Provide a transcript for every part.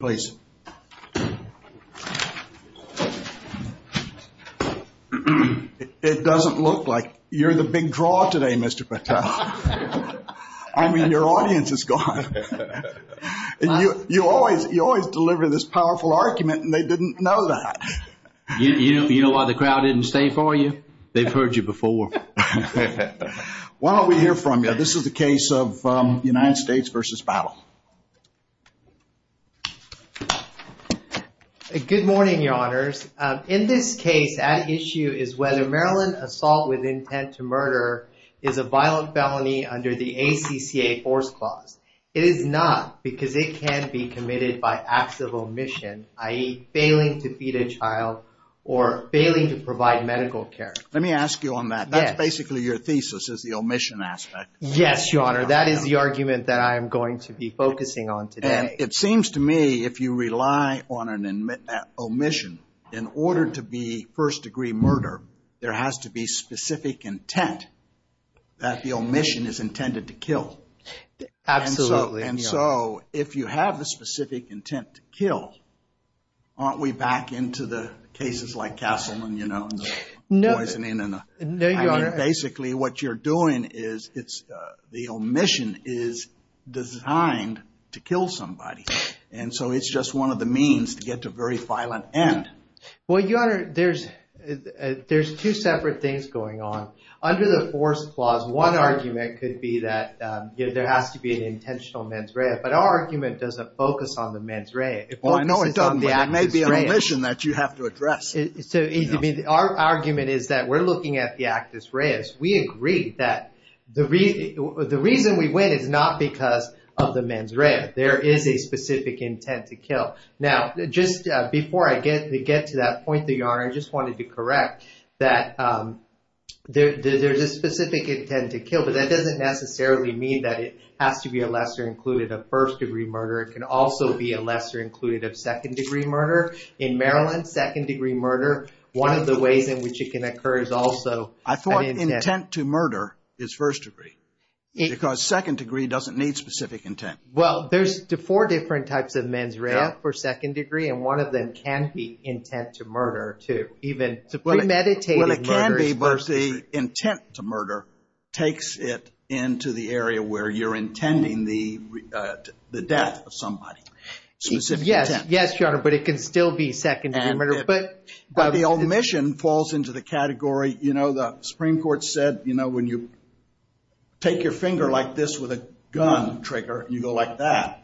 Please. It doesn't look like you're the big draw today, Mr. Patel. I mean, your audience is gone. You always deliver this powerful argument, and they didn't know that. You know why the crowd didn't stay for you? They've heard you before. Why don't we hear from you? This is the case of United States v. Battle. Good morning, Your Honors. In this case, at issue is whether Maryland assault with intent to murder is a violent felony under the ACCA Force Clause. It is not, because it can be committed by acts of omission, i.e., failing to feed a child or failing to provide medical care. Let me ask you on that. That's basically your thesis, is the omission aspect. Yes, Your Honor. That is the argument that I am going to be focusing on today. It seems to me, if you rely on an omission, in order to be first-degree murder, there has to be specific intent that the omission is intended to kill. Absolutely. And so, if you have the specific intent to kill, aren't we back into the cases like Castleman, you know, and the poisoning? No, Your Honor. Basically, what you're doing is, the omission is designed to kill somebody. And so, it's just one of the means to get to a very violent end. Well, Your Honor, there's two separate things going on. Under the Force Clause, one argument could be that there has to be an intentional mens rea, but our argument doesn't focus on the mens rea. It focuses on the act of mens rea. Well, no, it doesn't. There may be an omission that you have to address. So, our argument is that we're looking at the actus reus. We agree that the reason we win is not because of the mens rea. There is a specific intent to kill. Now, just before I get to that point, Your Honor, I just wanted to correct that there's a specific intent to kill, but that doesn't necessarily mean that it has to be a lesser included of first-degree murder. It can also be a lesser included of second-degree murder. In Maryland, second-degree murder, one of the ways in which it can occur is also an intent. I thought intent to murder is first-degree, because second-degree doesn't need specific intent. Well, there's four different types of mens rea for second-degree, and one of them can be intent to murder, too. Even premeditated murder is first-degree. Well, it can be, but the intent to murder takes it into the area where you're intending the death of somebody. Specific intent. Yes, Your Honor, but it can still be second-degree murder. The omission falls into the category, you know, the Supreme Court said, you know, when you take your finger like this with a gun trigger and you go like that,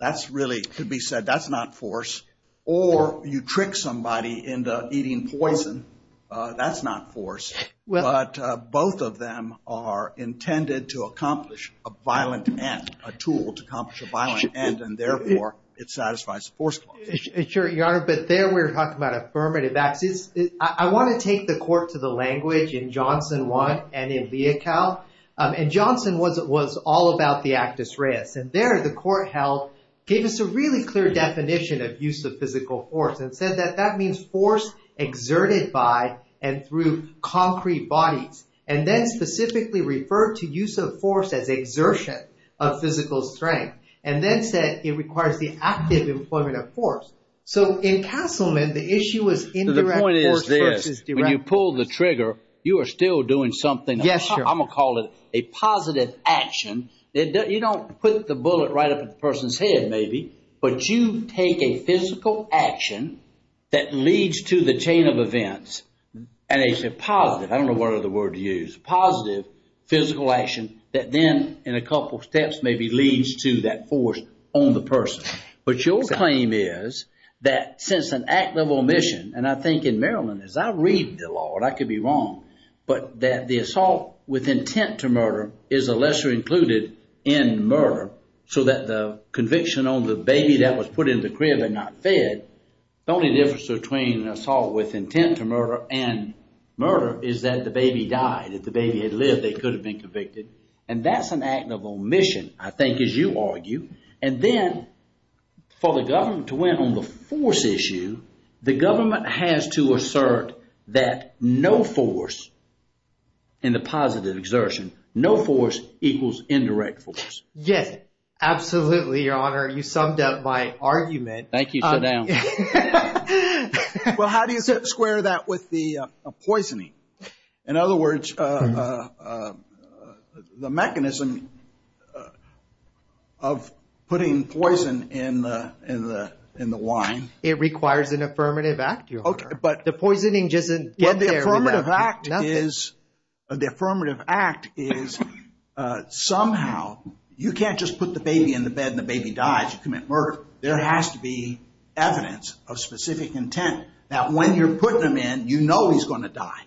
that's really, could be said, that's not force. Or you trick somebody into eating poison, that's not force. But both of them are intended to accomplish a violent end, a tool to accomplish a violent end, and therefore, it satisfies the force clause. Sure, Your Honor, but there we're talking about affirmative acts. I want to take the court to the language in Johnson 1 and in Leocal, and Johnson was all about the actus reus, and there the court held, gave us a really clear definition of use of physical force, and said that that means force exerted by and through concrete bodies, and then specifically referred to use of force as exertion of physical strength, and then said it requires the active employment of force. So in Castleman, the issue was indirect force versus direct force. So the point is this, when you pull the trigger, you are still doing something. Yes, Your Honor. I'm going to call it a positive action. You don't put the bullet right up in the person's head, maybe, but you take a physical action that leads to the chain of events, and a positive, I don't know what other word to use, positive physical action that then, in a couple steps, maybe leads to that force on the person. But your claim is that since an act of omission, and I think in Maryland, as I read the law, and I could be wrong, but that the assault with intent to murder is a lesser included in murder, so that the conviction on the baby that was put in the crib and not fed, the only difference between assault with intent to murder and murder is that the baby died. If the baby had lived, they could have been convicted. And that's an act of omission, I think, as you argue. And then for the government to win on the force issue, the government has to assert that no force in the positive exertion, no force equals indirect force. Yes, absolutely, Your Honor. You summed up my argument. Thank you. Sit down. Well, how do you square that with the poisoning? In other words, the mechanism of putting poison in the wine. It requires an affirmative act, Your Honor. But the poisoning doesn't get there. Well, the affirmative act is somehow, you can't just put the baby in the bed and the baby dies, you commit murder. There has to be evidence of specific intent that when you're putting them in, you know he's going to die.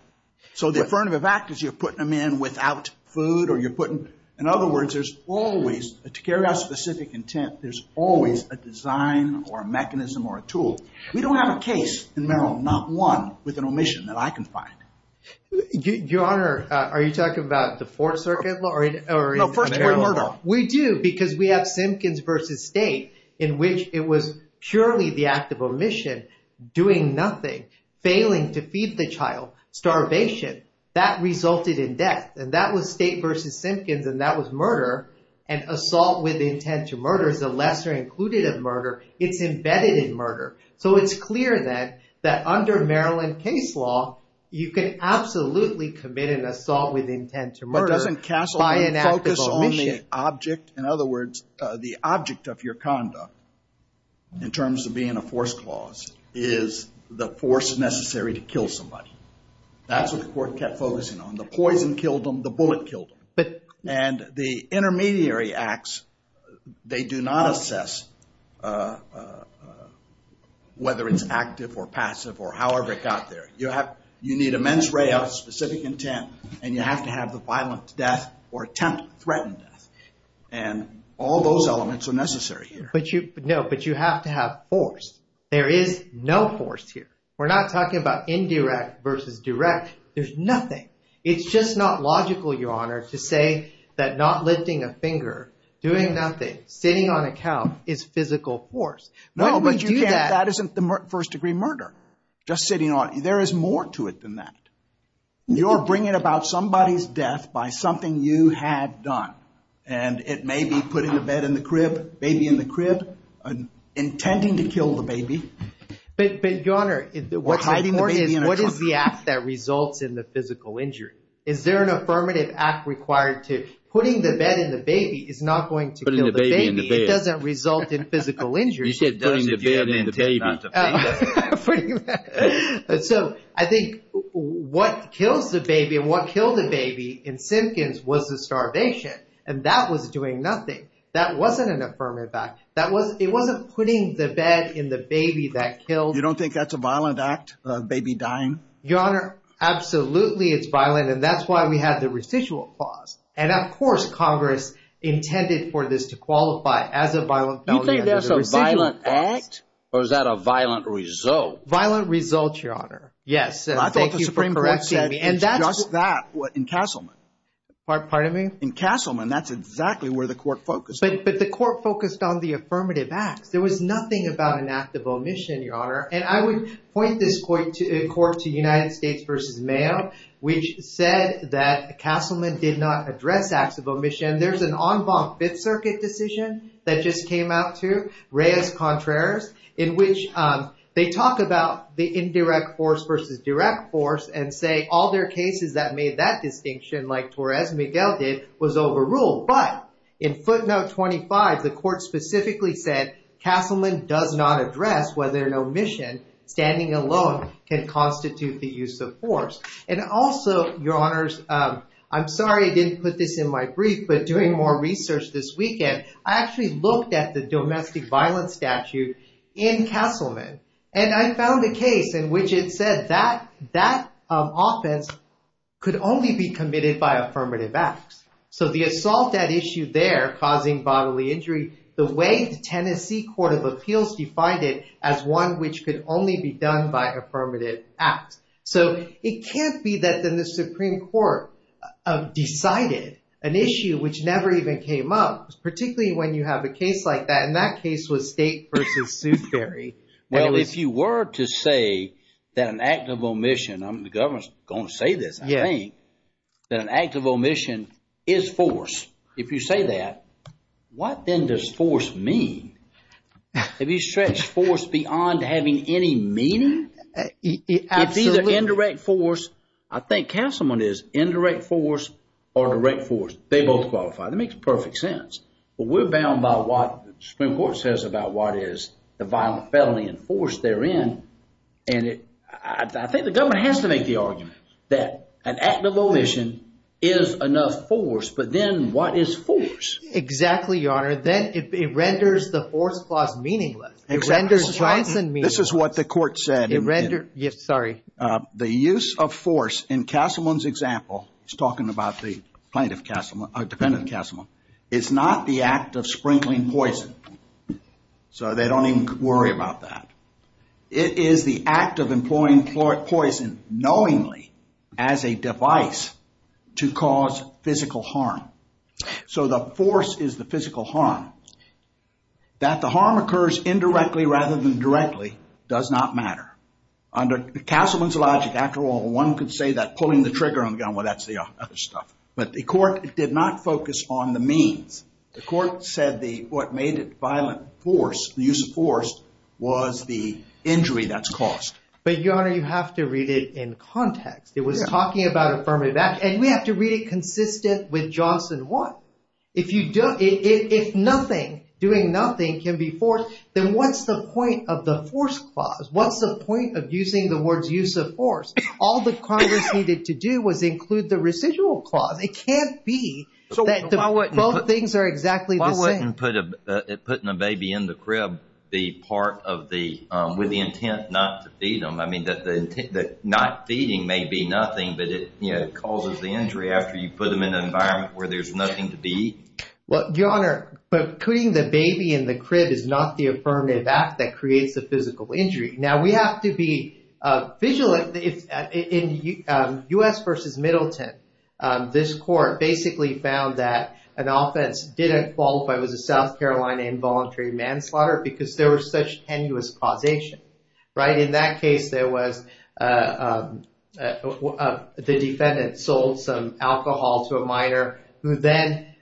So the affirmative act is you're putting them in without food or you're putting, in other words, there's always, to carry out specific intent, there's always a design or a mechanism or a tool. We don't have a case in Maryland, not one, with an omission that I can find. Your Honor, are you talking about the Fourth Circuit? No, first we're murder. We do, because we have Simpkins v. State in which it was purely the act of omission, doing nothing, failing to feed the child, starvation, that resulted in death. And that was State v. Simpkins and that was murder and assault with intent to murder is a lesser included of murder. It's embedded in murder. So it's clear that under Maryland case law, you can absolutely commit an assault with intent to murder by an act of omission. But doesn't Castlewood focus on the object, in other words, the object of your conduct, in terms of being a force clause, is the force necessary to kill somebody. That's what the court kept focusing on. The poison killed him, the bullet killed him. And the intermediary acts, they do not assess whether it's active or passive or however it got there. You need immense ray of specific intent and you have to have the violent death or attempt threatened death. And all those elements are necessary here. But you have to have force. There is no force here. We're not talking about indirect versus direct. There's nothing. It's just not logical, Your Honor, to say that not lifting a finger, doing nothing, sitting on a couch is physical force. No, but that isn't the first degree murder. Just sitting on, there is more to it than that. You're bringing about somebody's death by something you had done. And it may be putting a bed in the crib, baby in the crib, intending to kill the baby. But Your Honor, what's important is what is the act that results in the physical injury? Is there an affirmative act required to, putting the bed in the baby is not going to kill the baby. It doesn't result in physical injury. You said putting the bed in the baby. So I think what kills the baby and what killed the baby in Simpkins was the starvation. And that was doing nothing. That wasn't an affirmative act. It wasn't putting the bed in the baby that killed. You don't think that's a violent act, a baby dying? Your Honor, absolutely it's violent. And that's why we had the residual clause. And of course, Congress intended for this to qualify as a violent felony. You think that's a violent act, or is that a violent result? Violent result, Your Honor. Yes. And thank you for correcting me. Just that in Castleman. Pardon me? In Castleman, that's exactly where the court focused. But the court focused on the affirmative acts. There was nothing about an act of omission, Your Honor. And I would point this court to United States v. Mayo, which said that Castleman did not address acts of omission. There's an en banc Fifth Circuit decision that just came out too, Reyes-Contreras, in which they talk about the indirect force versus direct force and say all their cases that made that distinction, like Torres-Miguel did, was overruled. But in footnote 25, the court specifically said Castleman does not address whether an omission, standing alone, can constitute the use of force. And also, Your Honors, I'm sorry I didn't put this in my brief, but doing more research this weekend, I actually looked at the domestic violence statute in Castleman. And I found a case in which it said that that offense could only be committed by affirmative acts. So the assault at issue there causing bodily injury, the way the Tennessee Court of Appeals defined it as one which could only be done by affirmative acts. So it can't be that then the Supreme Court decided an issue which never even came up, particularly when you have a case of Sue Perry. Well, if you were to say that an act of omission, the government's going to say this, I think, that an act of omission is force. If you say that, what then does force mean? Have you stretched force beyond having any meaning? It's either indirect force, I think Castleman is indirect force or direct force. They both qualify. That makes perfect sense. But we're bound by what the Supreme Court says about what is the violent felony and force therein. And I think the government has to make the argument that an act of omission is enough force. But then what is force? Exactly, Your Honor. Then it renders the force clause meaningless. It renders Johnson meaningless. This is what the court said. The use of force in Castleman's example, he's talking about the plaintiff Castleman, or defendant Castleman, is not the act of sprinkling poison. So they don't even worry about that. It is the act of employing poison knowingly as a device to cause physical harm. So the force is the physical harm. That the harm occurs indirectly rather than directly does not matter. Under Castleman's logic, after all, one could say that but the court did not focus on the means. The court said what made it violent force, the use of force, was the injury that's caused. But Your Honor, you have to read it in context. It was talking about affirmative action. And we have to read it consistent with Johnson 1. If doing nothing can be forced, then what's the point of the force clause? What's the point of using the words use of force? All the Congress needed to do was include the residual clause. It can't be that both things are exactly the same. Why wouldn't putting a baby in the crib be part of the, with the intent not to feed them? I mean, that not feeding may be nothing, but it causes the injury after you put them in an environment where there's nothing to be. Well, Your Honor, putting the baby in the crib is not the affirmative act that creates a physical injury. Now, we have to be vigilant. In U.S. v. Middleton, this court basically found that an offense didn't qualify as a South Carolina involuntary manslaughter because there was such tenuous causation, right? In that case, there was, the defendant sold some alcohol to a minor who then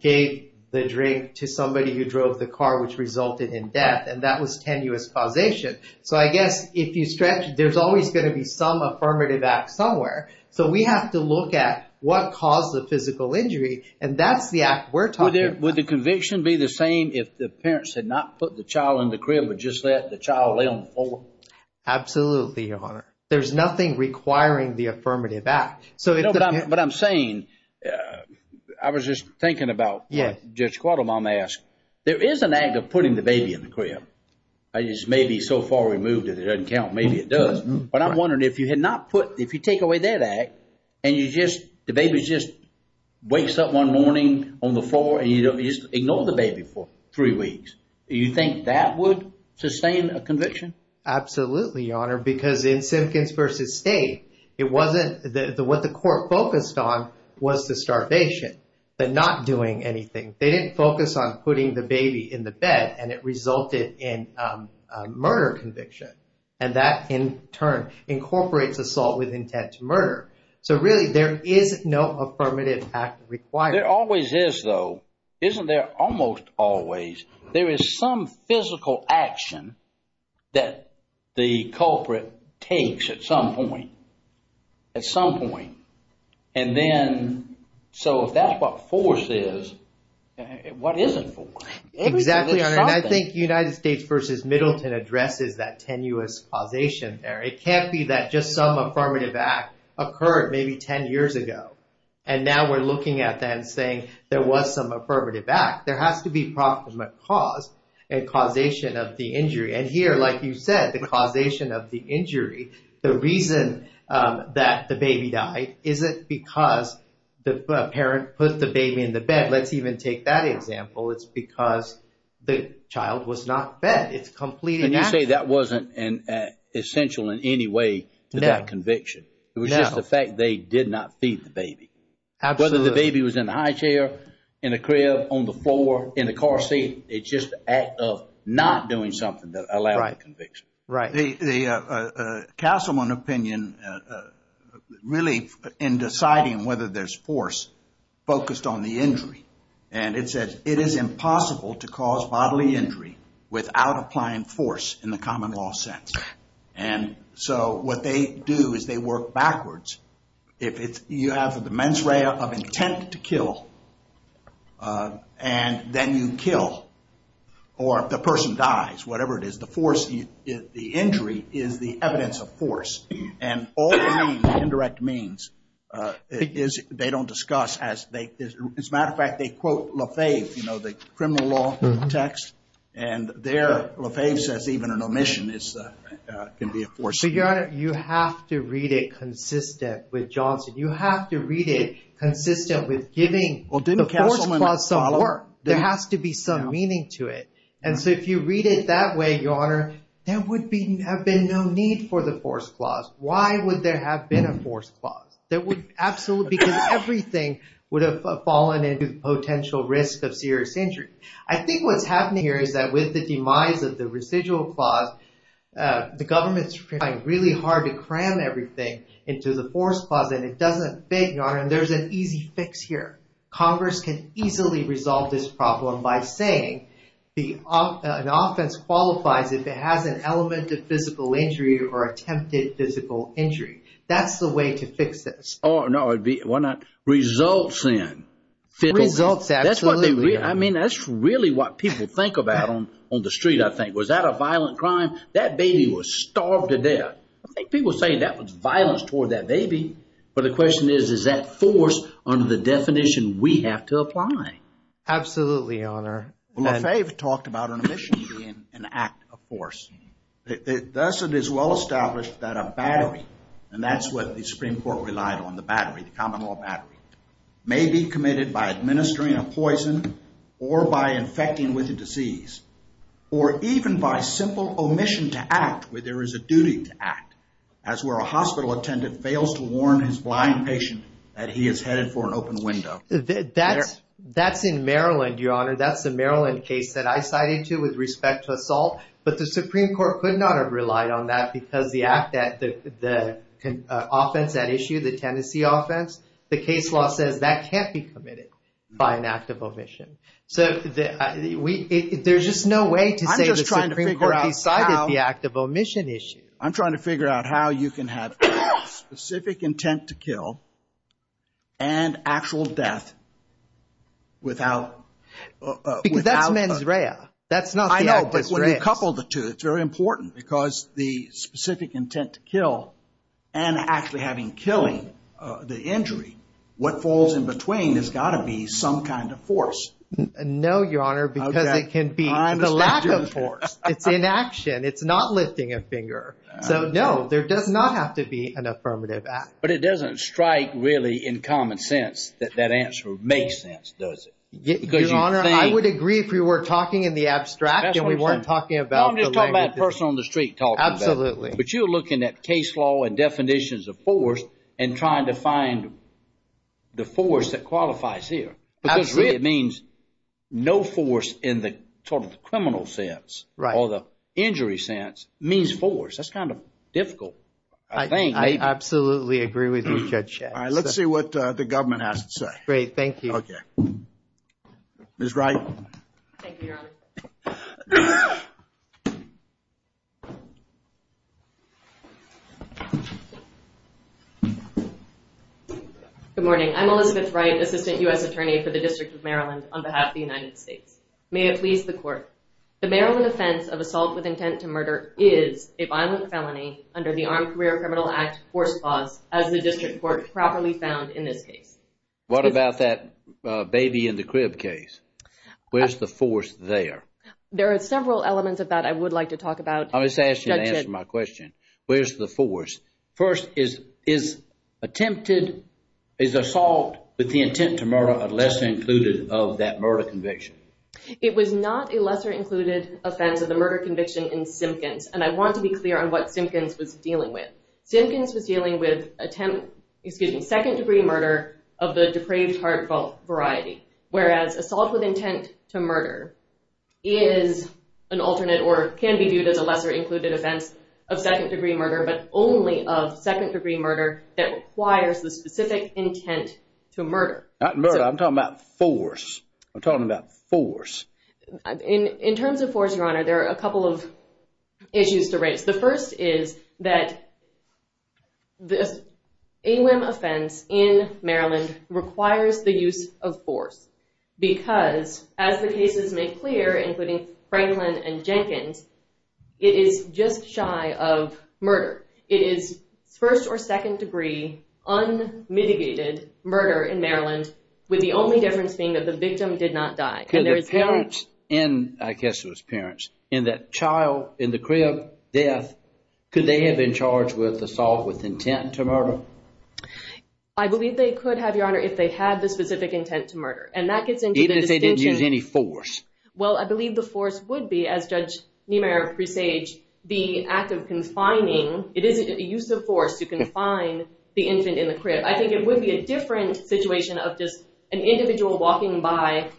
gave the drink to somebody who drove the car, which resulted in death. And that was tenuous causation. So I guess if you stretch it, there's always going to be some affirmative act somewhere. So we have to look at what caused the physical injury. And that's the act we're talking about. Would the conviction be the same if the parents had not put the child in the crib, but just let the child lay on the floor? Absolutely, Your Honor. There's nothing requiring the affirmative act. But I'm saying, I was just thinking about what Judge Quattlebaum asked. There is an act of putting the baby in the crib. It's maybe so far removed that it doesn't count. Maybe it does. But I'm wondering if you had not put, if you take away that act, and you just, the baby just wakes up one morning on the floor and you just ignore the baby for three weeks, you think that would sustain a conviction? Absolutely, Your Honor, because in Simpkins v. State, it wasn't, what the court focused on was the starvation, but not doing anything. They didn't focus on putting the baby in the bed, and it resulted in a murder conviction. And that, in turn, incorporates assault with intent to murder. So really, there is no affirmative act required. There always is, though. Isn't there almost always? There is some physical action that the culprit takes at some point, at some point. And then, so if that's what force is, what isn't force? Exactly, Your Honor. And I think United States v. Middleton addresses that tenuous causation there. It can't be that just some affirmative act occurred maybe 10 years ago, and now we're looking at that and saying there was some affirmative act. There has to be proximate cause and causation of the injury. The reason that the baby died isn't because the parent put the baby in the bed. Let's even take that example. It's because the child was not fed. It's completing action. And you say that wasn't essential in any way to that conviction. It was just the fact they did not feed the baby. Absolutely. Whether the baby was in the high chair, in the crib, on the floor, in the car seat, it's just the act of not doing something that allowed the conviction. The Castleman opinion really in deciding whether there's force focused on the injury. And it says, it is impossible to cause bodily injury without applying force in the common law sense. And so what they do is they work backwards. If you have the mens rea of intent to kill, and then you kill, or if the person dies, whatever it is, the injury is the evidence of force. And all they mean, indirect means, they don't discuss as they, as a matter of fact, they quote Lefebvre, the criminal law text, and there Lefebvre says even an omission can be a force. Your Honor, you have to read it consistent with Johnson. You have to read it consistent with giving the force clause some work. There has to be some meaning to it. And so if you read it that way, Your Honor, there would be, have been no need for the force clause. Why would there have been a force clause? There would absolutely, because everything would have fallen into the potential risk of serious injury. I think what's happening here is that with the demise of the residual clause, the government's trying really hard to cram everything into the force clause, and it doesn't fit, Your Honor, and there's an easy fix here. Congress can easily resolve this problem by saying the, an offense qualifies if it has an element of physical injury or attempted physical injury. That's the way to fix this. Oh, no, it'd be, why not? Results in. Results, absolutely. I mean, that's really what people think about on the street, I think. Was that a violent crime? That baby was starved to death. I think people say that was violence toward that baby. But the question is, is that force under the definition we have to apply? Absolutely, Your Honor. Well, LaFave talked about an omission being an act of force. Thus it is well established that a battery, and that's what the Supreme Court relied on, the battery, the common law battery, may be committed by administering a poison or by infecting with a disease, or even by simple omission to act where there is a duty to act, as where a hospital attendant fails to warn his flying patient that he is headed for an open window. That's in Maryland, Your Honor. That's the Maryland case that I cited to with respect to assault, but the Supreme Court could not have relied on that because the act that the offense at issue, the Tennessee offense, the case law says that can't be committed by an act of omission. So there's just no way to say the Supreme Court decided the act of omission issue. I'm trying to figure out how you can have specific intent to kill and actual death without... Because that's mens rea. That's not... I know, but when you couple the two, it's very important because the specific intent to kill and actually having killing the injury, what falls in between has got to be some kind of force. No, Your Honor, because it can be the lack of force. It's inaction. It's not lifting a finger. So no, there does not have to be an affirmative act. But it doesn't strike really in common sense that that answer makes sense, does it? Your Honor, I would agree if we were talking in the abstract and we weren't talking about... I'm just talking about a person on the street talking about it. Absolutely. But you're looking at case law and definitions of force and trying to find the force that qualifies here. Absolutely. Because it means no force in the total criminal sense. Right. Or the injury sense means force. That's kind of difficult. I think. I absolutely agree with you, Judge Schatz. All right. Let's see what the government has to say. Great. Thank you. Good morning. I'm Elizabeth Wright, Assistant U.S. Attorney for the District of Maryland, on behalf of the United States. May it please the Court, the Maryland offense of assault with intent to murder is a violent felony under the Armed Career Criminal Act force clause, as the District Court properly found in this case. What about that baby in the crib case? Where's the force there? There are several elements of that I would like to talk about. I'm just asking you to answer my question. Where's the force? First, is attempted, is assault with the intent to murder a lesser included of that murder conviction? It was not a lesser included offense of the murder conviction in Simpkins. And I want to be clear on what Simpkins was dealing with. Simpkins was dealing with attempt, excuse me, second degree murder of the depraved heart fault variety. Whereas assault with intent to murder is an alternate or can be viewed as a lesser included offense of second degree murder, but only of second degree murder that requires the specific intent to murder. Not murder. I'm talking about force. I'm talking about force. In terms of force, Your Honor, there are a couple of issues to raise. The first is that the AWIM offense in Maryland requires the use of force because, as the cases make clear, including Franklin and Jenkins, it is just shy of murder. It is first or second degree unmitigated murder in Maryland, with the only difference being that the victim did not die. Could the parents in, I guess it was parents, in that child in the crib death, could they have been charged with assault with intent to murder? I believe they could have, Your Honor, if they had the specific intent to murder. And that gets into the distinction. Even if they didn't use any force. Well, I believe the force would be, as Judge Niemeyer presaged, the act of confining. It isn't a use of force to confine the infant in the crib. I think it would be a different situation of just an individual walking by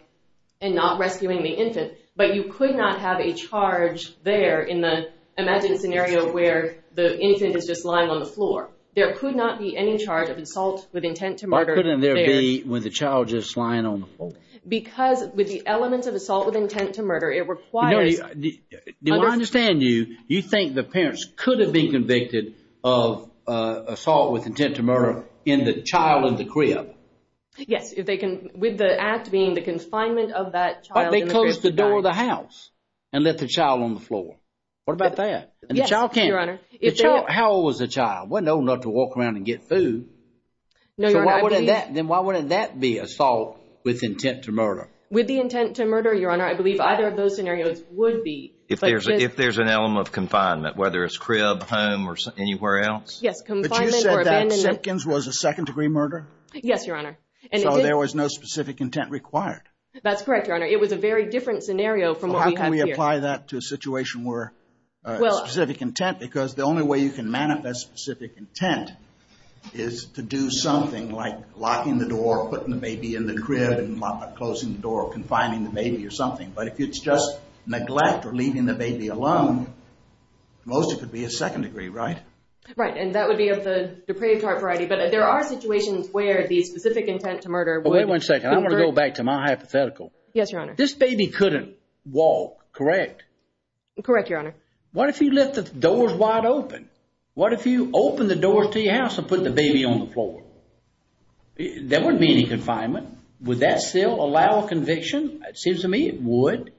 and not rescuing the infant. But you could not have a charge there in the imagined scenario where the infant is just lying on the floor. There could not be any charge of assault with intent to murder there. Why couldn't there be when the child is just lying on the floor? Because with the elements of assault with intent to murder, it requires... Do I understand you, you think the parents could have been convicted of assault with intent to murder? Yes, with the act being the confinement of that child. But they closed the door of the house and left the child on the floor. What about that? Yes, Your Honor. How old was the child? Wasn't old enough to walk around and get food. No, Your Honor. Then why wouldn't that be assault with intent to murder? With the intent to murder, Your Honor, I believe either of those scenarios would be. If there's an element of confinement, whether it's crib, home, or anywhere else. Yes, confinement or abandonment. But you said that Simpkins was a second degree murder? Yes, Your Honor. So there was no specific intent required? That's correct, Your Honor. It was a very different scenario from what we have here. How can we apply that to a situation where specific intent, because the only way you can manifest specific intent is to do something like locking the door, putting the baby in the crib, and closing the door, confining the baby or something. But if it's just neglect or leaving the baby alone, most it could be a second degree, right? Right, and that would be of the depraved heart variety. But there are situations where the specific intent to murder... Wait one second, I'm going to go back to my hypothetical. Yes, Your Honor. This baby couldn't walk, correct? Correct, Your Honor. What if you left the doors wide open? What if you opened the doors to your house and put the baby on the floor? There wouldn't be any confinement. Would that still allow conviction? It seems to me it would.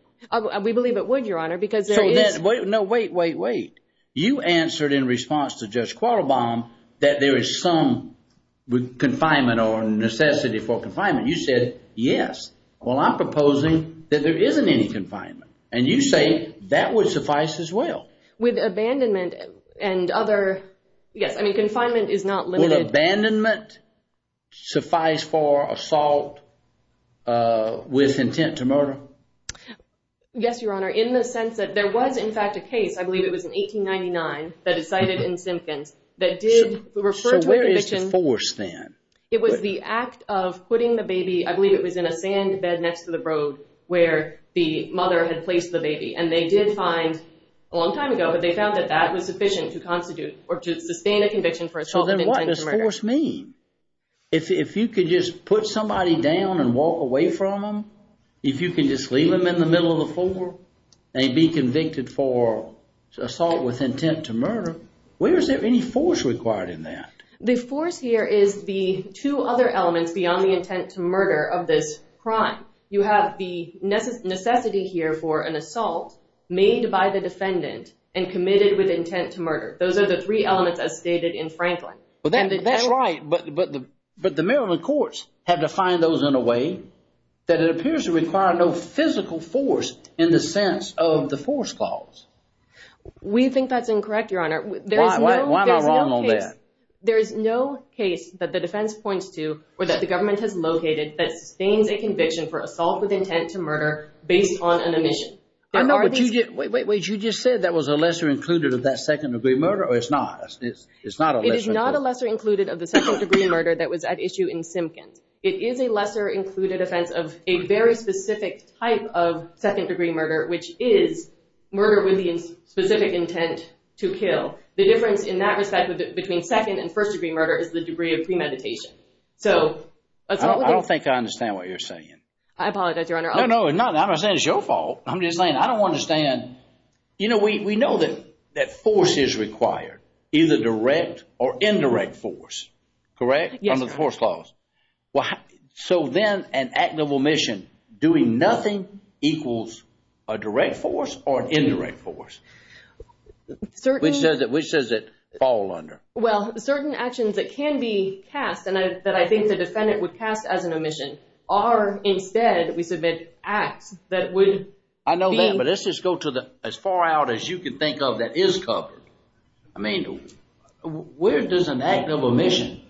We believe it would, Your Honor, because there is... Wait, no, wait, wait, wait. You answered in response to Judge Quattlebaum that there is some confinement or necessity for confinement. You said, yes, well, I'm proposing that there isn't any confinement. And you say that would suffice as well. With abandonment and other... Yes, I mean, confinement is not limited... Will Yes, Your Honor, in the sense that there was, in fact, a case, I believe it was in 1899, that is cited in Simpkins, that did refer to a conviction... So where is the force then? It was the act of putting the baby, I believe it was in a sand bed next to the road where the mother had placed the baby. And they did find, a long time ago, but they found that that was sufficient to constitute or to sustain a conviction for assault and intent to murder. So then what does force mean? If you could just put somebody down and walk away from them, if you can just leave them in the middle of the floor, they'd be convicted for assault with intent to murder. Where is there any force required in that? The force here is the two other elements beyond the intent to murder of this crime. You have the necessity here for an assault made by the defendant and committed with intent to murder. Those are the three elements as stated in Franklin. Well, that's right. But the Maryland courts have defined those in a way that it appears to require no physical force in the sense of the force clause. We think that's incorrect, Your Honor. Why am I wrong on that? There is no case that the defense points to or that the government has located that sustains a conviction for assault with intent to murder based on an omission. Wait, you just said that was a lesser included of that second degree murder or it's not? It is not a lesser included of the second degree murder that was at issue in Simpkins. It is a lesser included offense of a very specific type of second degree murder, which is murder with the specific intent to kill. The difference in that respect between second and first degree murder is the degree of premeditation. I don't think I understand what you're saying. I apologize, Your Honor. No, no, it's not. I'm not saying it's your fault. I'm just saying I don't understand. You know, we know that force is required, either direct or indirect force, correct, under the force clause. So then an act of omission doing nothing equals a direct force or an indirect force. Which does it fall under? Well, certain actions that can be cast and that I think the defendant would cast as an omission are instead, we submit acts that would be... I know that, but let's just go to as far out as you can think of that is covered. I mean, where does an act of omission,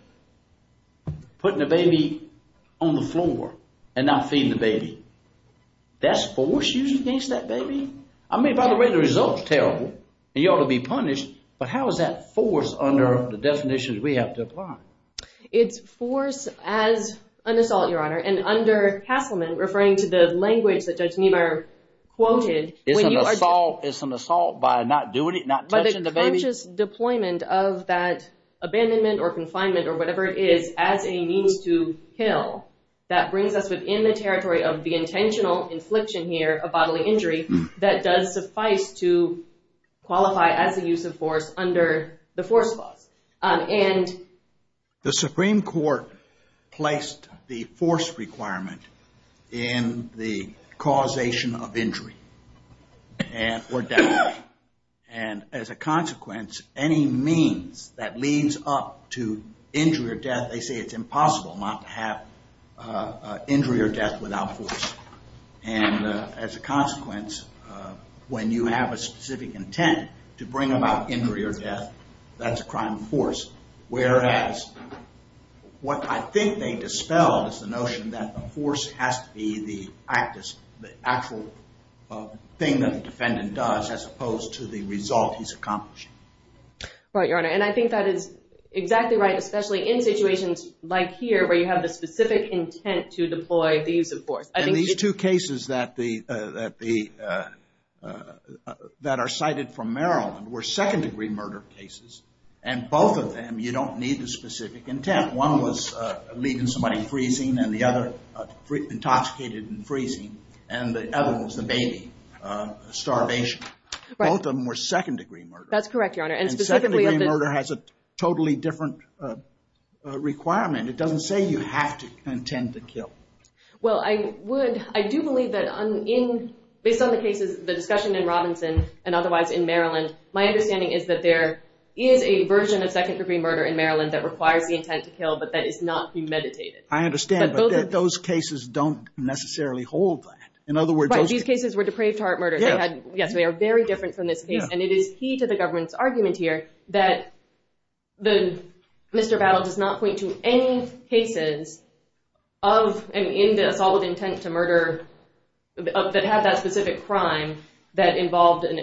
putting the baby on the floor and not feeding the baby, that's force used against that baby? I mean, by the way, the result's terrible and you ought to be punished, but how is that force under the definitions we have to apply? It's force as an assault, Your Honor. And under Castleman, referring to the language that Judge deployment of that abandonment or confinement or whatever it is as a means to kill, that brings us within the territory of the intentional infliction here of bodily injury that does suffice to qualify as a use of force under the force clause. And... The Supreme Court placed the force requirement in the causation of injury and or death. And as a consequence, any means that leads up to injury or death, they say it's impossible not to have injury or death without force. And as a consequence, when you have a specific intent to bring about injury or death, that's a crime of force. Whereas what I think they dispelled is the notion that the force has to be the actual thing that the defendant does as opposed to the result he's accomplishing. Right, Your Honor. And I think that is exactly right, especially in situations like here where you have the specific intent to deploy the use of force. And these two cases that are cited from Maryland were second degree murder cases. And both of them, you don't need the specific intent. One was leaving somebody freezing and the other intoxicated and freezing. And the other was the baby starvation. Both of them were second degree murder. That's correct, Your Honor. And second degree murder has a totally different requirement. It doesn't say you have to intend to kill. Well, I do believe that based on the cases, the discussion in Robinson and otherwise in Maryland, my understanding is that there is a version of second degree murder in Maryland that requires the intent to kill, but that is not premeditated. I understand, but those cases don't necessarily hold that. In other words, these cases were depraved heart murders. Yes, they are very different from this case. And it is key to the government's argument here that Mr. Battle does not point to any cases of an assault with intent to murder that have that specific crime that involved an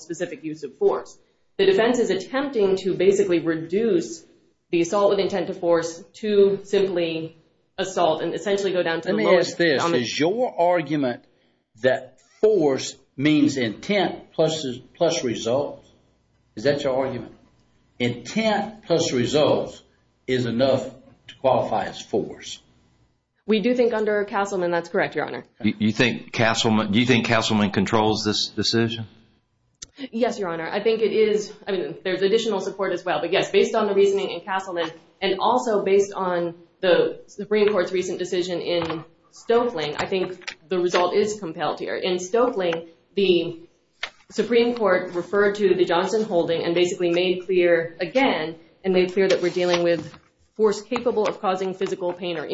specific use of force. The defense is attempting to basically reduce the assault with intent to force to simply assault and essentially go down to the lowest. Is your argument that force means intent plus results? Is that your argument? Intent plus results is enough to qualify as force. We do think under Castleman, that's correct, Your Honor. You think Castleman controls this decision? Yes, Your Honor. I think it is. I mean, there's additional support as well. But yes, based on the reasoning in Castleman, and also based on the Supreme Court's recent decision in Stoeckling, I think the result is compelled here. In Stoeckling, the Supreme Court referred to the Johnson holding and basically made clear again and made clear that we're dealing with force capable of causing physical pain or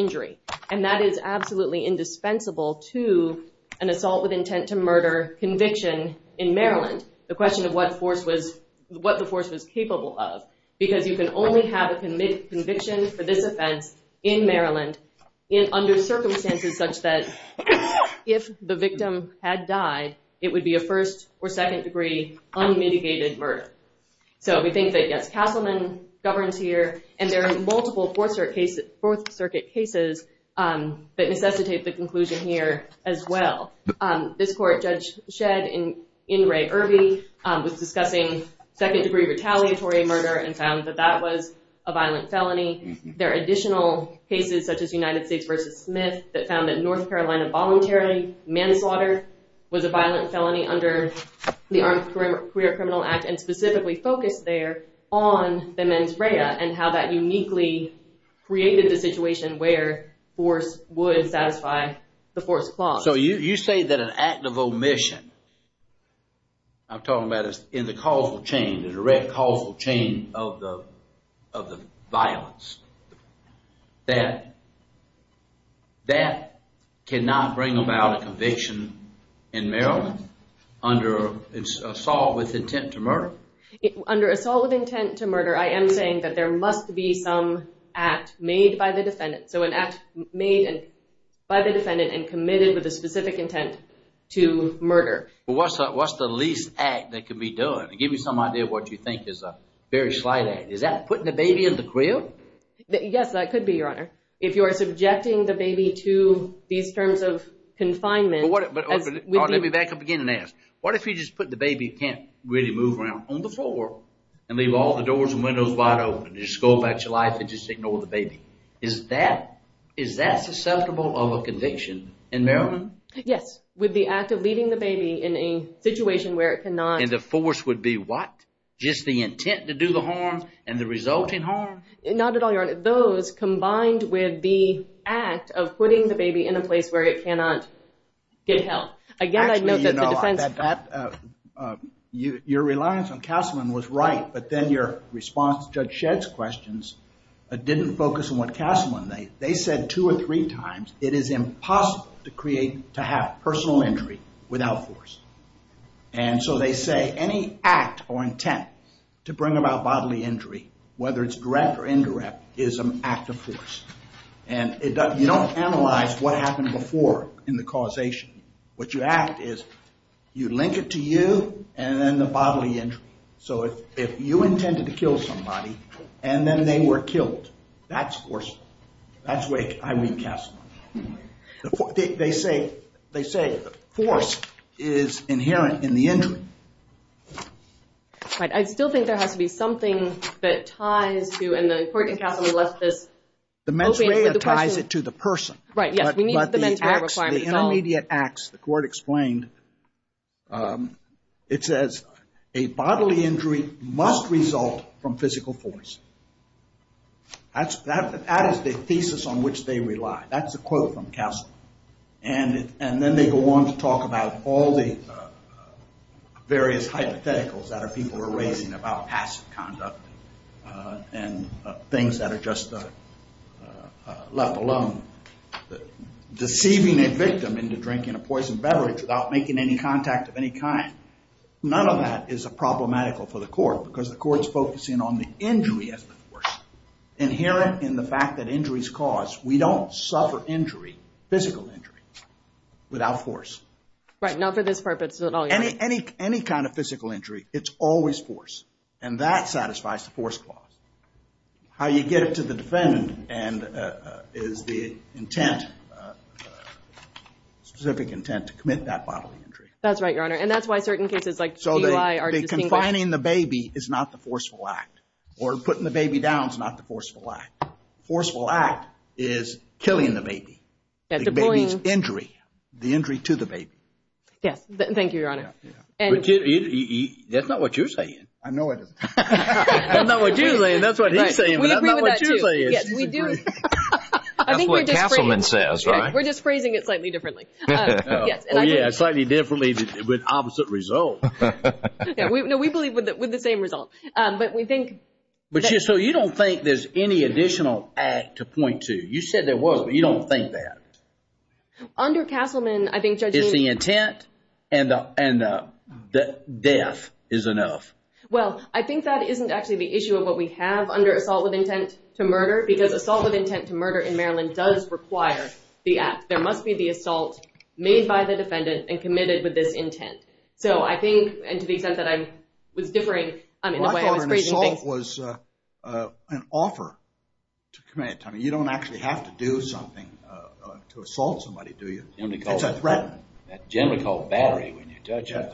to an assault with intent to murder conviction in Maryland. The question of what the force was capable of because you can only have a conviction for this offense in Maryland under circumstances such that if the victim had died, it would be a first or second degree unmitigated murder. So we think that yes, Castleman governs here and there are multiple Fourth Circuit cases that necessitate the conclusion here as well. This court, Judge Shedd in Ray Irby was discussing second degree retaliatory murder and found that that was a violent felony. There are additional cases such as United States versus Smith that found that North Carolina voluntary manslaughter was a violent felony under the Armed Career Criminal Act and specifically focused there on the mens rea and how that uniquely created the situation where force would satisfy the force clause. So you say that an act of omission, I'm talking about in the causal chain, the direct causal chain of the violence, that cannot bring about a conviction in Maryland under assault with intent to murder? Under assault with intent to murder, I am saying that there must be some act made by the defendant. So an act made by the defendant and committed with a specific intent to murder. What's the least act that could be done? To give you some idea of what you think is a very slight act. Is that putting the baby in the crib? Yes, that could be, Your Honor. If you are subjecting the baby to these terms of confinement. Let me back up again and ask. What if you just put the baby can't really move around on the floor and leave all the doors and windows wide open and just go about your life and just ignore the baby? Is that susceptible of a conviction in Maryland? Yes, with the act of leaving the baby in a situation where it cannot. And the force would be what? Just the intent to do the harm and the resulting harm? Not at all, Your Honor. Those combined with the act of putting the baby in a good health. Again, I'd note that the defense... Actually, you know, your reliance on Castleman was right. But then your response to Judge Shedd's questions didn't focus on what Castleman made. They said two or three times, it is impossible to create, to have personal injury without force. And so they say any act or intent to bring about bodily injury, whether it's direct or indirect, is an act of force. And you don't analyze what happened before in the causation. What you act is you link it to you and then the bodily injury. So if you intended to kill somebody and then they were killed, that's forcible. That's the way I read Castleman. They say force is inherent in the injury. But I still think there has to be something that ties to... And the court in Castleman left this... The mens rea ties it to the person. Right, yes. We need the mens re requirement. The intermediate acts, the court explained, it says a bodily injury must result from physical force. That is the thesis on which they rely. That's a quote from Castleman. And then they go on to talk about all the various hypotheticals people were raising about passive conduct and things that are just left alone. Deceiving a victim into drinking a poison beverage without making any contact of any kind, none of that is a problematical for the court because the court's focusing on the injury as the force. Inherent in the fact that injuries cause, we don't suffer injury, physical injury, without force. Right, not for this purpose at all. Any kind of physical injury, it's always force. And that satisfies the force clause. How you get it to the defendant is the intent, specific intent to commit that bodily injury. That's right, Your Honor. And that's why certain cases like DUI are distinguished. So confining the baby is not the forceful act. Or putting the baby down is not the forceful act. The forceful act is killing the baby, the baby's injury, the injury to the baby. Yes, thank you, Your Honor. That's not what you're saying. I know it isn't. That's not what you're saying, that's what he's saying, but that's not what you're saying. Yes, we do. That's what Castleman says, right? We're just phrasing it slightly differently. Yeah, slightly differently with opposite result. No, we believe with the same result. But we think... So you don't think there's any additional act to point to? You said there was, but you don't think that? Under Castleman, I think... It's the intent and the death is enough. Well, I think that isn't actually the issue of what we have under assault with intent to murder, because assault with intent to murder in Maryland does require the act. There must be the assault made by the defendant and committed with this intent. So I think, and to the extent that I was differing in the way I was an offer to commit, I mean, you don't actually have to do something to assault somebody, do you? It's a threat. Generally called battery when you touch it.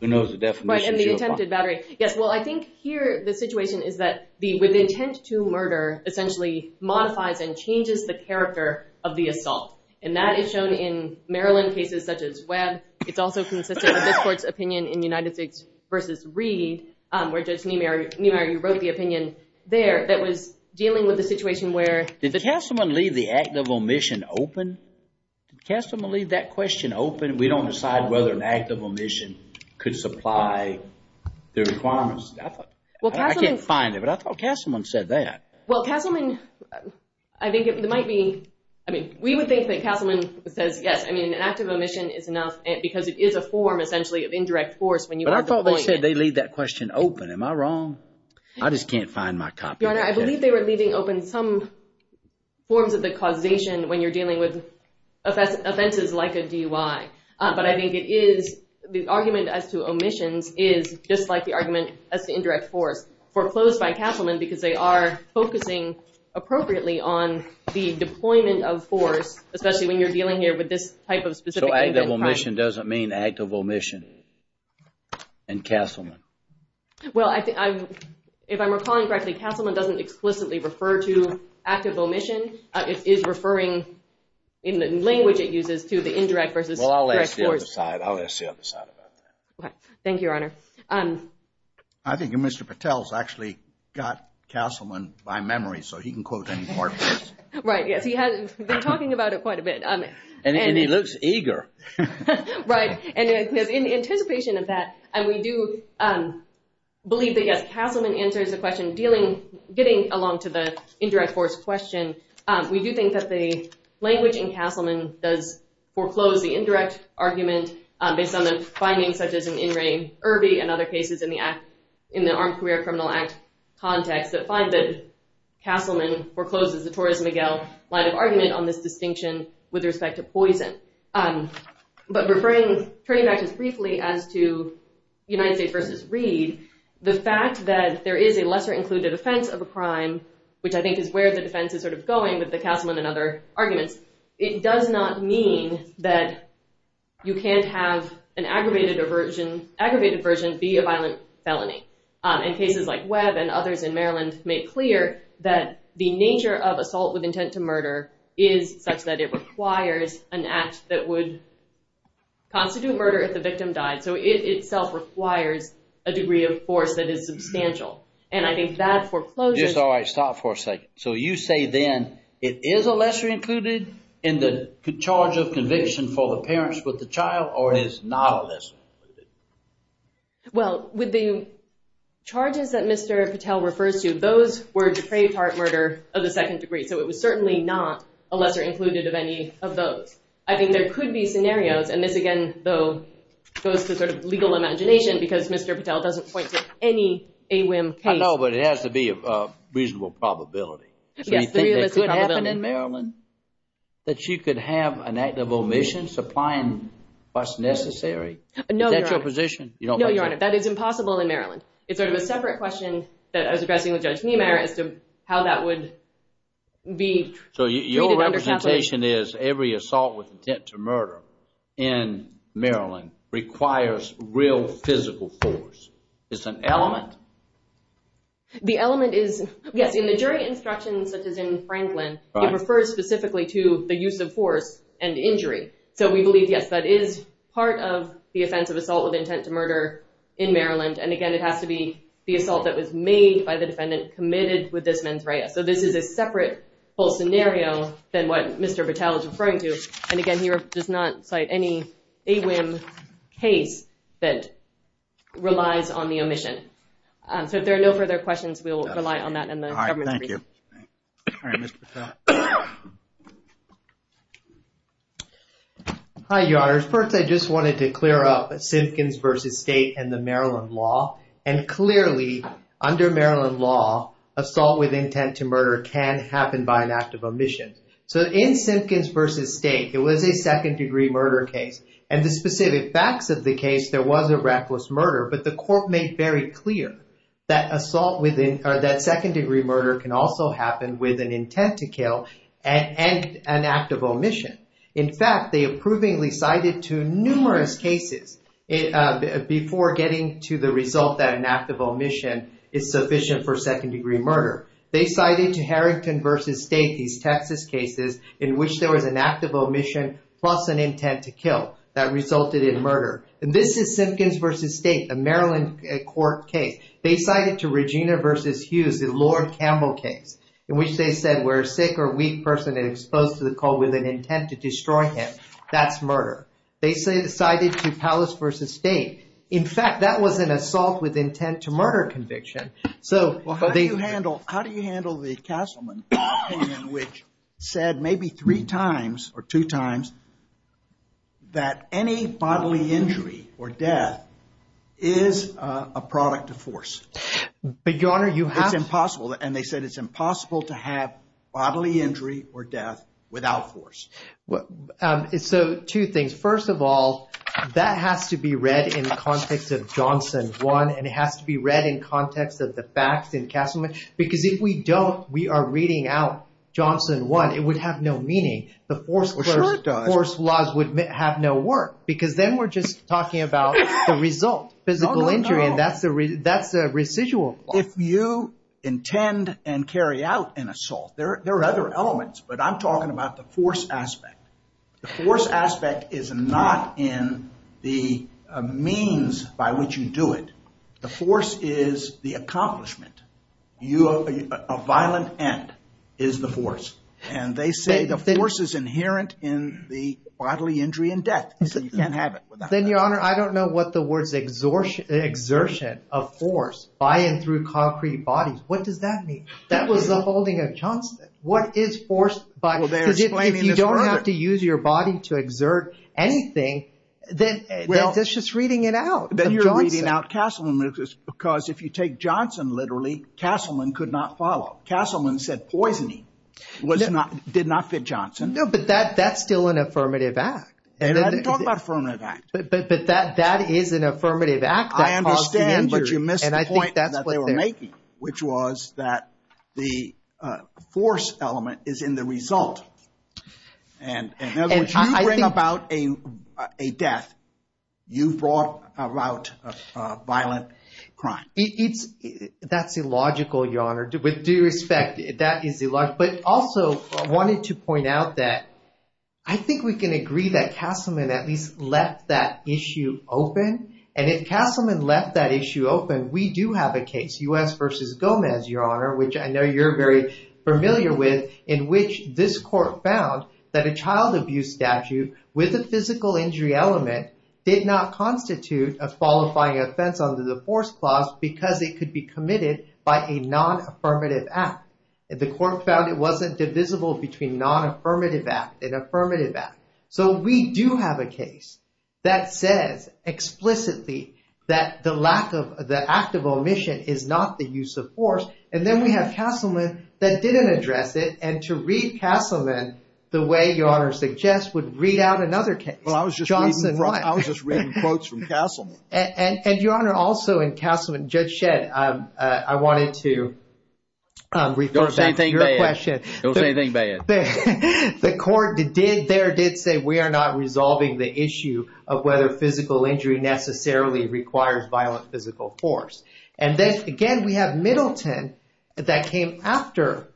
Who knows the definition? Right, and the attempted battery. Yes, well, I think here the situation is that the with intent to murder essentially modifies and changes the character of the assault. And that is shown in Maryland cases such as Webb. It's also consistent with this court's opinion in United States versus Reed, where Judge Niemeyer, you wrote the opinion there that was dealing with a situation where... Did Castleman leave the act of omission open? Did Castleman leave that question open? We don't decide whether an act of omission could supply the requirements. I can't find it, but I thought Castleman said that. Well, Castleman, I think it might be, I mean, we would think that Castleman says, yes, I mean, an act of omission is enough because it is a form of indirect force. But I thought they said they leave that question open. Am I wrong? I just can't find my copy. Your Honor, I believe they were leaving open some forms of the causation when you're dealing with offenses like a DUI. But I think it is the argument as to omissions is just like the argument as to indirect force foreclosed by Castleman because they are focusing appropriately on the deployment of force, especially when you're dealing with an act of omission and Castleman. Well, if I'm recalling correctly, Castleman doesn't explicitly refer to act of omission. It is referring in the language it uses to the indirect versus direct force. Well, I'll ask the other side. I'll ask the other side about that. Okay. Thank you, Your Honor. I think Mr. Patel's actually got Castleman by memory, so he can quote any part of this. Right. Yes. He has been talking about it quite a bit. And he looks eager. Right. And in anticipation of that, and we do believe that, yes, Castleman answers the question dealing, getting along to the indirect force question. We do think that the language in Castleman does foreclose the indirect argument based on the findings such as an in re Irby and other cases in the act in the Armed Career Criminal Act context that find that Castleman forecloses the Torres-Miguel line of argument on this distinction with respect to poison. But referring, turning back just briefly as to United States versus Reed, the fact that there is a lesser included offense of a crime, which I think is where the defense is sort of going with the Castleman and other arguments, it does not mean that you can't have an aggravated aversion, aggravated version be a violent felony. In cases like Webb and others in Maryland make clear that the nature of assault with intent to murder is such that it requires an act that would constitute murder if the victim died. So it itself requires a degree of force that is substantial. And I think that foreclosure... Just all right, stop for a second. So you say then it is a lesser included in the charge of conviction for the parents with the child or is not less? Well, with the charges that Mr. Patel refers to, those were depraved heart murder of the second degree. So it was certainly not a lesser included of any of those. I think there could be scenarios and this again, though, goes to sort of legal imagination because Mr. Patel doesn't point to any AWIM case. I know, but it has to be a reasonable probability. So you think that could happen in Is that your position? No, Your Honor. That is impossible in Maryland. It's sort of a separate question that I was addressing with Judge Niemeyer as to how that would be... So your representation is every assault with intent to murder in Maryland requires real physical force. It's an element? The element is, yes, in the jury instructions, such as in Franklin, it refers specifically to the use of force and injury. So we believe, yes, that is part of the offense of assault with intent to murder in Maryland. And again, it has to be the assault that was made by the defendant committed with this mens rea. So this is a separate whole scenario than what Mr. Patel is referring to. And again, he does not cite any AWIM case that relies on the omission. So if there are no further questions, we'll rely on that and the government. Thank you. All right, Mr. Patel. Hi, Your Honor. First, I just wanted to clear up Simpkins v. State and the Maryland law. And clearly, under Maryland law, assault with intent to murder can happen by an act of omission. So in Simpkins v. State, it was a second degree murder case. And the specific facts of the case, there was a reckless murder. But the court made very clear that assault with that second degree murder can also happen with an intent to kill and an act of omission. In fact, they approvingly cited to numerous cases before getting to the result that an act of omission is sufficient for second degree murder. They cited to Harrington v. State, these Texas cases in which there was an act of omission plus an intent to kill that resulted in murder. And this is Simpkins v. State, a Maryland court case. They cited to Regina v. Hughes, the Lord Campbell case, in which they said where a sick or weak person is exposed to the cold with an intent to destroy him. That's murder. They cited to Pallas v. State. In fact, that was an assault with intent to murder conviction. So how do you handle the Castleman opinion, which said maybe three times or two times that any bodily injury or death is a product of force? But your honor, you have... It's impossible. And they said it's impossible to have bodily injury or death without force. So two things. First of all, that has to be read in the context of Johnson 1. And it has to be read in context of the facts in Castleman. Because if we don't, we are reading out Johnson 1, it would have no meaning. The force laws would have no work. Because then we're just talking about the result, physical injury. And that's a residual law. If you intend and carry out an assault, there are other elements. But I'm talking about the force is the accomplishment. A violent end is the force. And they say the force is inherent in the bodily injury and death. You can't have it without it. Then your honor, I don't know what the words exertion of force by and through concrete bodies. What does that mean? That was the holding of Johnson. What is force by... Well, they're explaining this further. If you don't have to use your body to exert anything, then that's just reading it out. Then you're reading out Castleman because if you take Johnson literally, Castleman could not follow. Castleman said poisoning did not fit Johnson. No, but that's still an affirmative act. And I didn't talk about affirmative act. But that is an affirmative act that caused injury. I understand, but you missed the point that they were making, which was that the force element is in the result. And in other words, you bring about a death, you brought about a violent crime. That's illogical, your honor. With due respect, that is illogical. But also, I wanted to point out that I think we can agree that Castleman at least left that issue open. And if Castleman left that issue open, we do have a case, U.S. versus Gomez, your honor, which I know you're very familiar with, in which this court found that a child abuse statute with a physical injury element did not constitute a qualifying offense under the force clause because it could be committed by a non-affirmative act. The court found it wasn't divisible between non-affirmative act and affirmative act. So we do have a case that says explicitly that the lack of the act of omission is not the use of force. And then we have Castleman that didn't address it. And to read Castleman, the way your honor suggests, would read out another case. Well, I was just reading quotes from Castleman. And your honor, also in Castleman, Judge Shedd, I wanted to refer back to your question. Don't say anything bad. The court there did say we are not resolving the issue of whether physical injury necessarily requires violent physical force. And then, again, we have Middleton that came after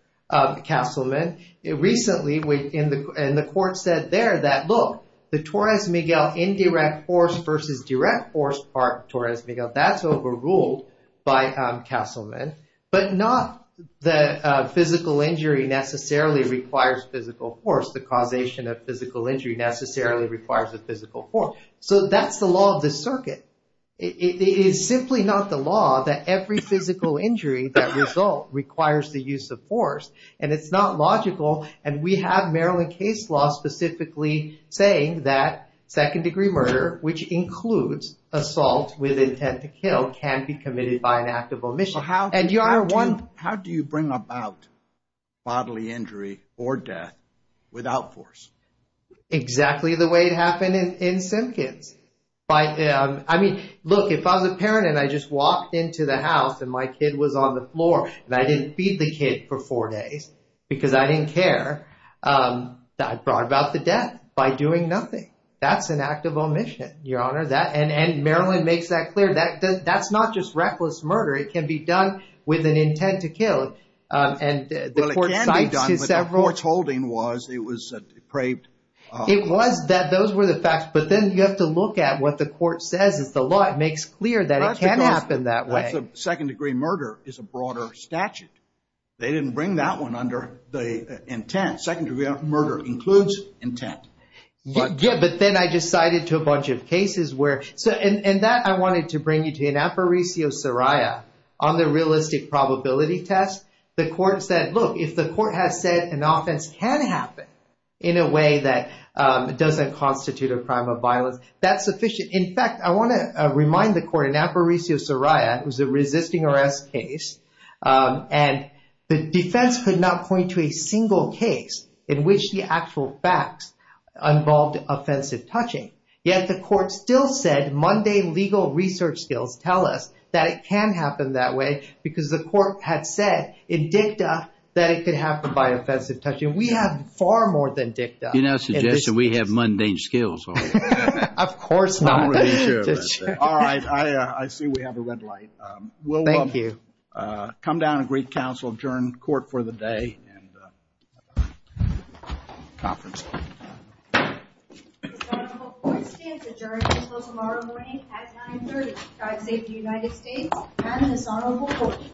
Castleman recently, and the court said there that, look, the Torres Miguel indirect force versus direct force part of Torres Miguel, that's overruled by Castleman. But not the physical injury necessarily requires physical force. The causation of physical injury necessarily requires a physical force. So that's the law of the circuit. It is simply not the law that every physical injury that result requires the use of force. And it's not logical. And we have Maryland case law specifically saying that second degree murder, which includes assault with intent to kill, can be committed by an act of omission. How do you bring about bodily injury or death without force? Exactly the way it happened in Simpkins. I mean, look, if I was a parent and I just walked into the house and my kid was on the floor and I didn't feed the kid for four days because I didn't care, I brought about the death by doing nothing. That's an act of omission, your honor. That and Maryland makes that clear. That's not just reckless murder. It can be done with an intent to kill. Well, it can be done, but the court's holding was it was a depraved. It was that those were the facts. But then you have to look at what the court says is the law. It makes clear that it can happen that way. That's a second degree murder is a broader statute. They didn't bring that one under the intent. Second degree murder includes intent. Yeah, but then I decided to a bunch of cases where, and that I wanted to bring you to an Aparecio-Soraya on the realistic probability test. The court said, look, if the court has said an offense can happen in a way that doesn't constitute a crime of violence, that's sufficient. In fact, I want to remind the court in Aparecio-Soraya, it was a resisting arrest case, and the defense could not point to a single case in which the actual facts involved offensive touching. Yet the court still said mundane legal research skills tell us that it can happen that way because the court had said in DICTA that it could happen by offensive touching. We have far more than DICTA. Do you not suggest that we have mundane skills? Of course not. All right. I see we have a red light. Thank you. Come down and greet counsel, adjourn court for the day and conference. Court stands adjourned until tomorrow morning at 930. Drive safe to the United States. I'm Anasana Bokori.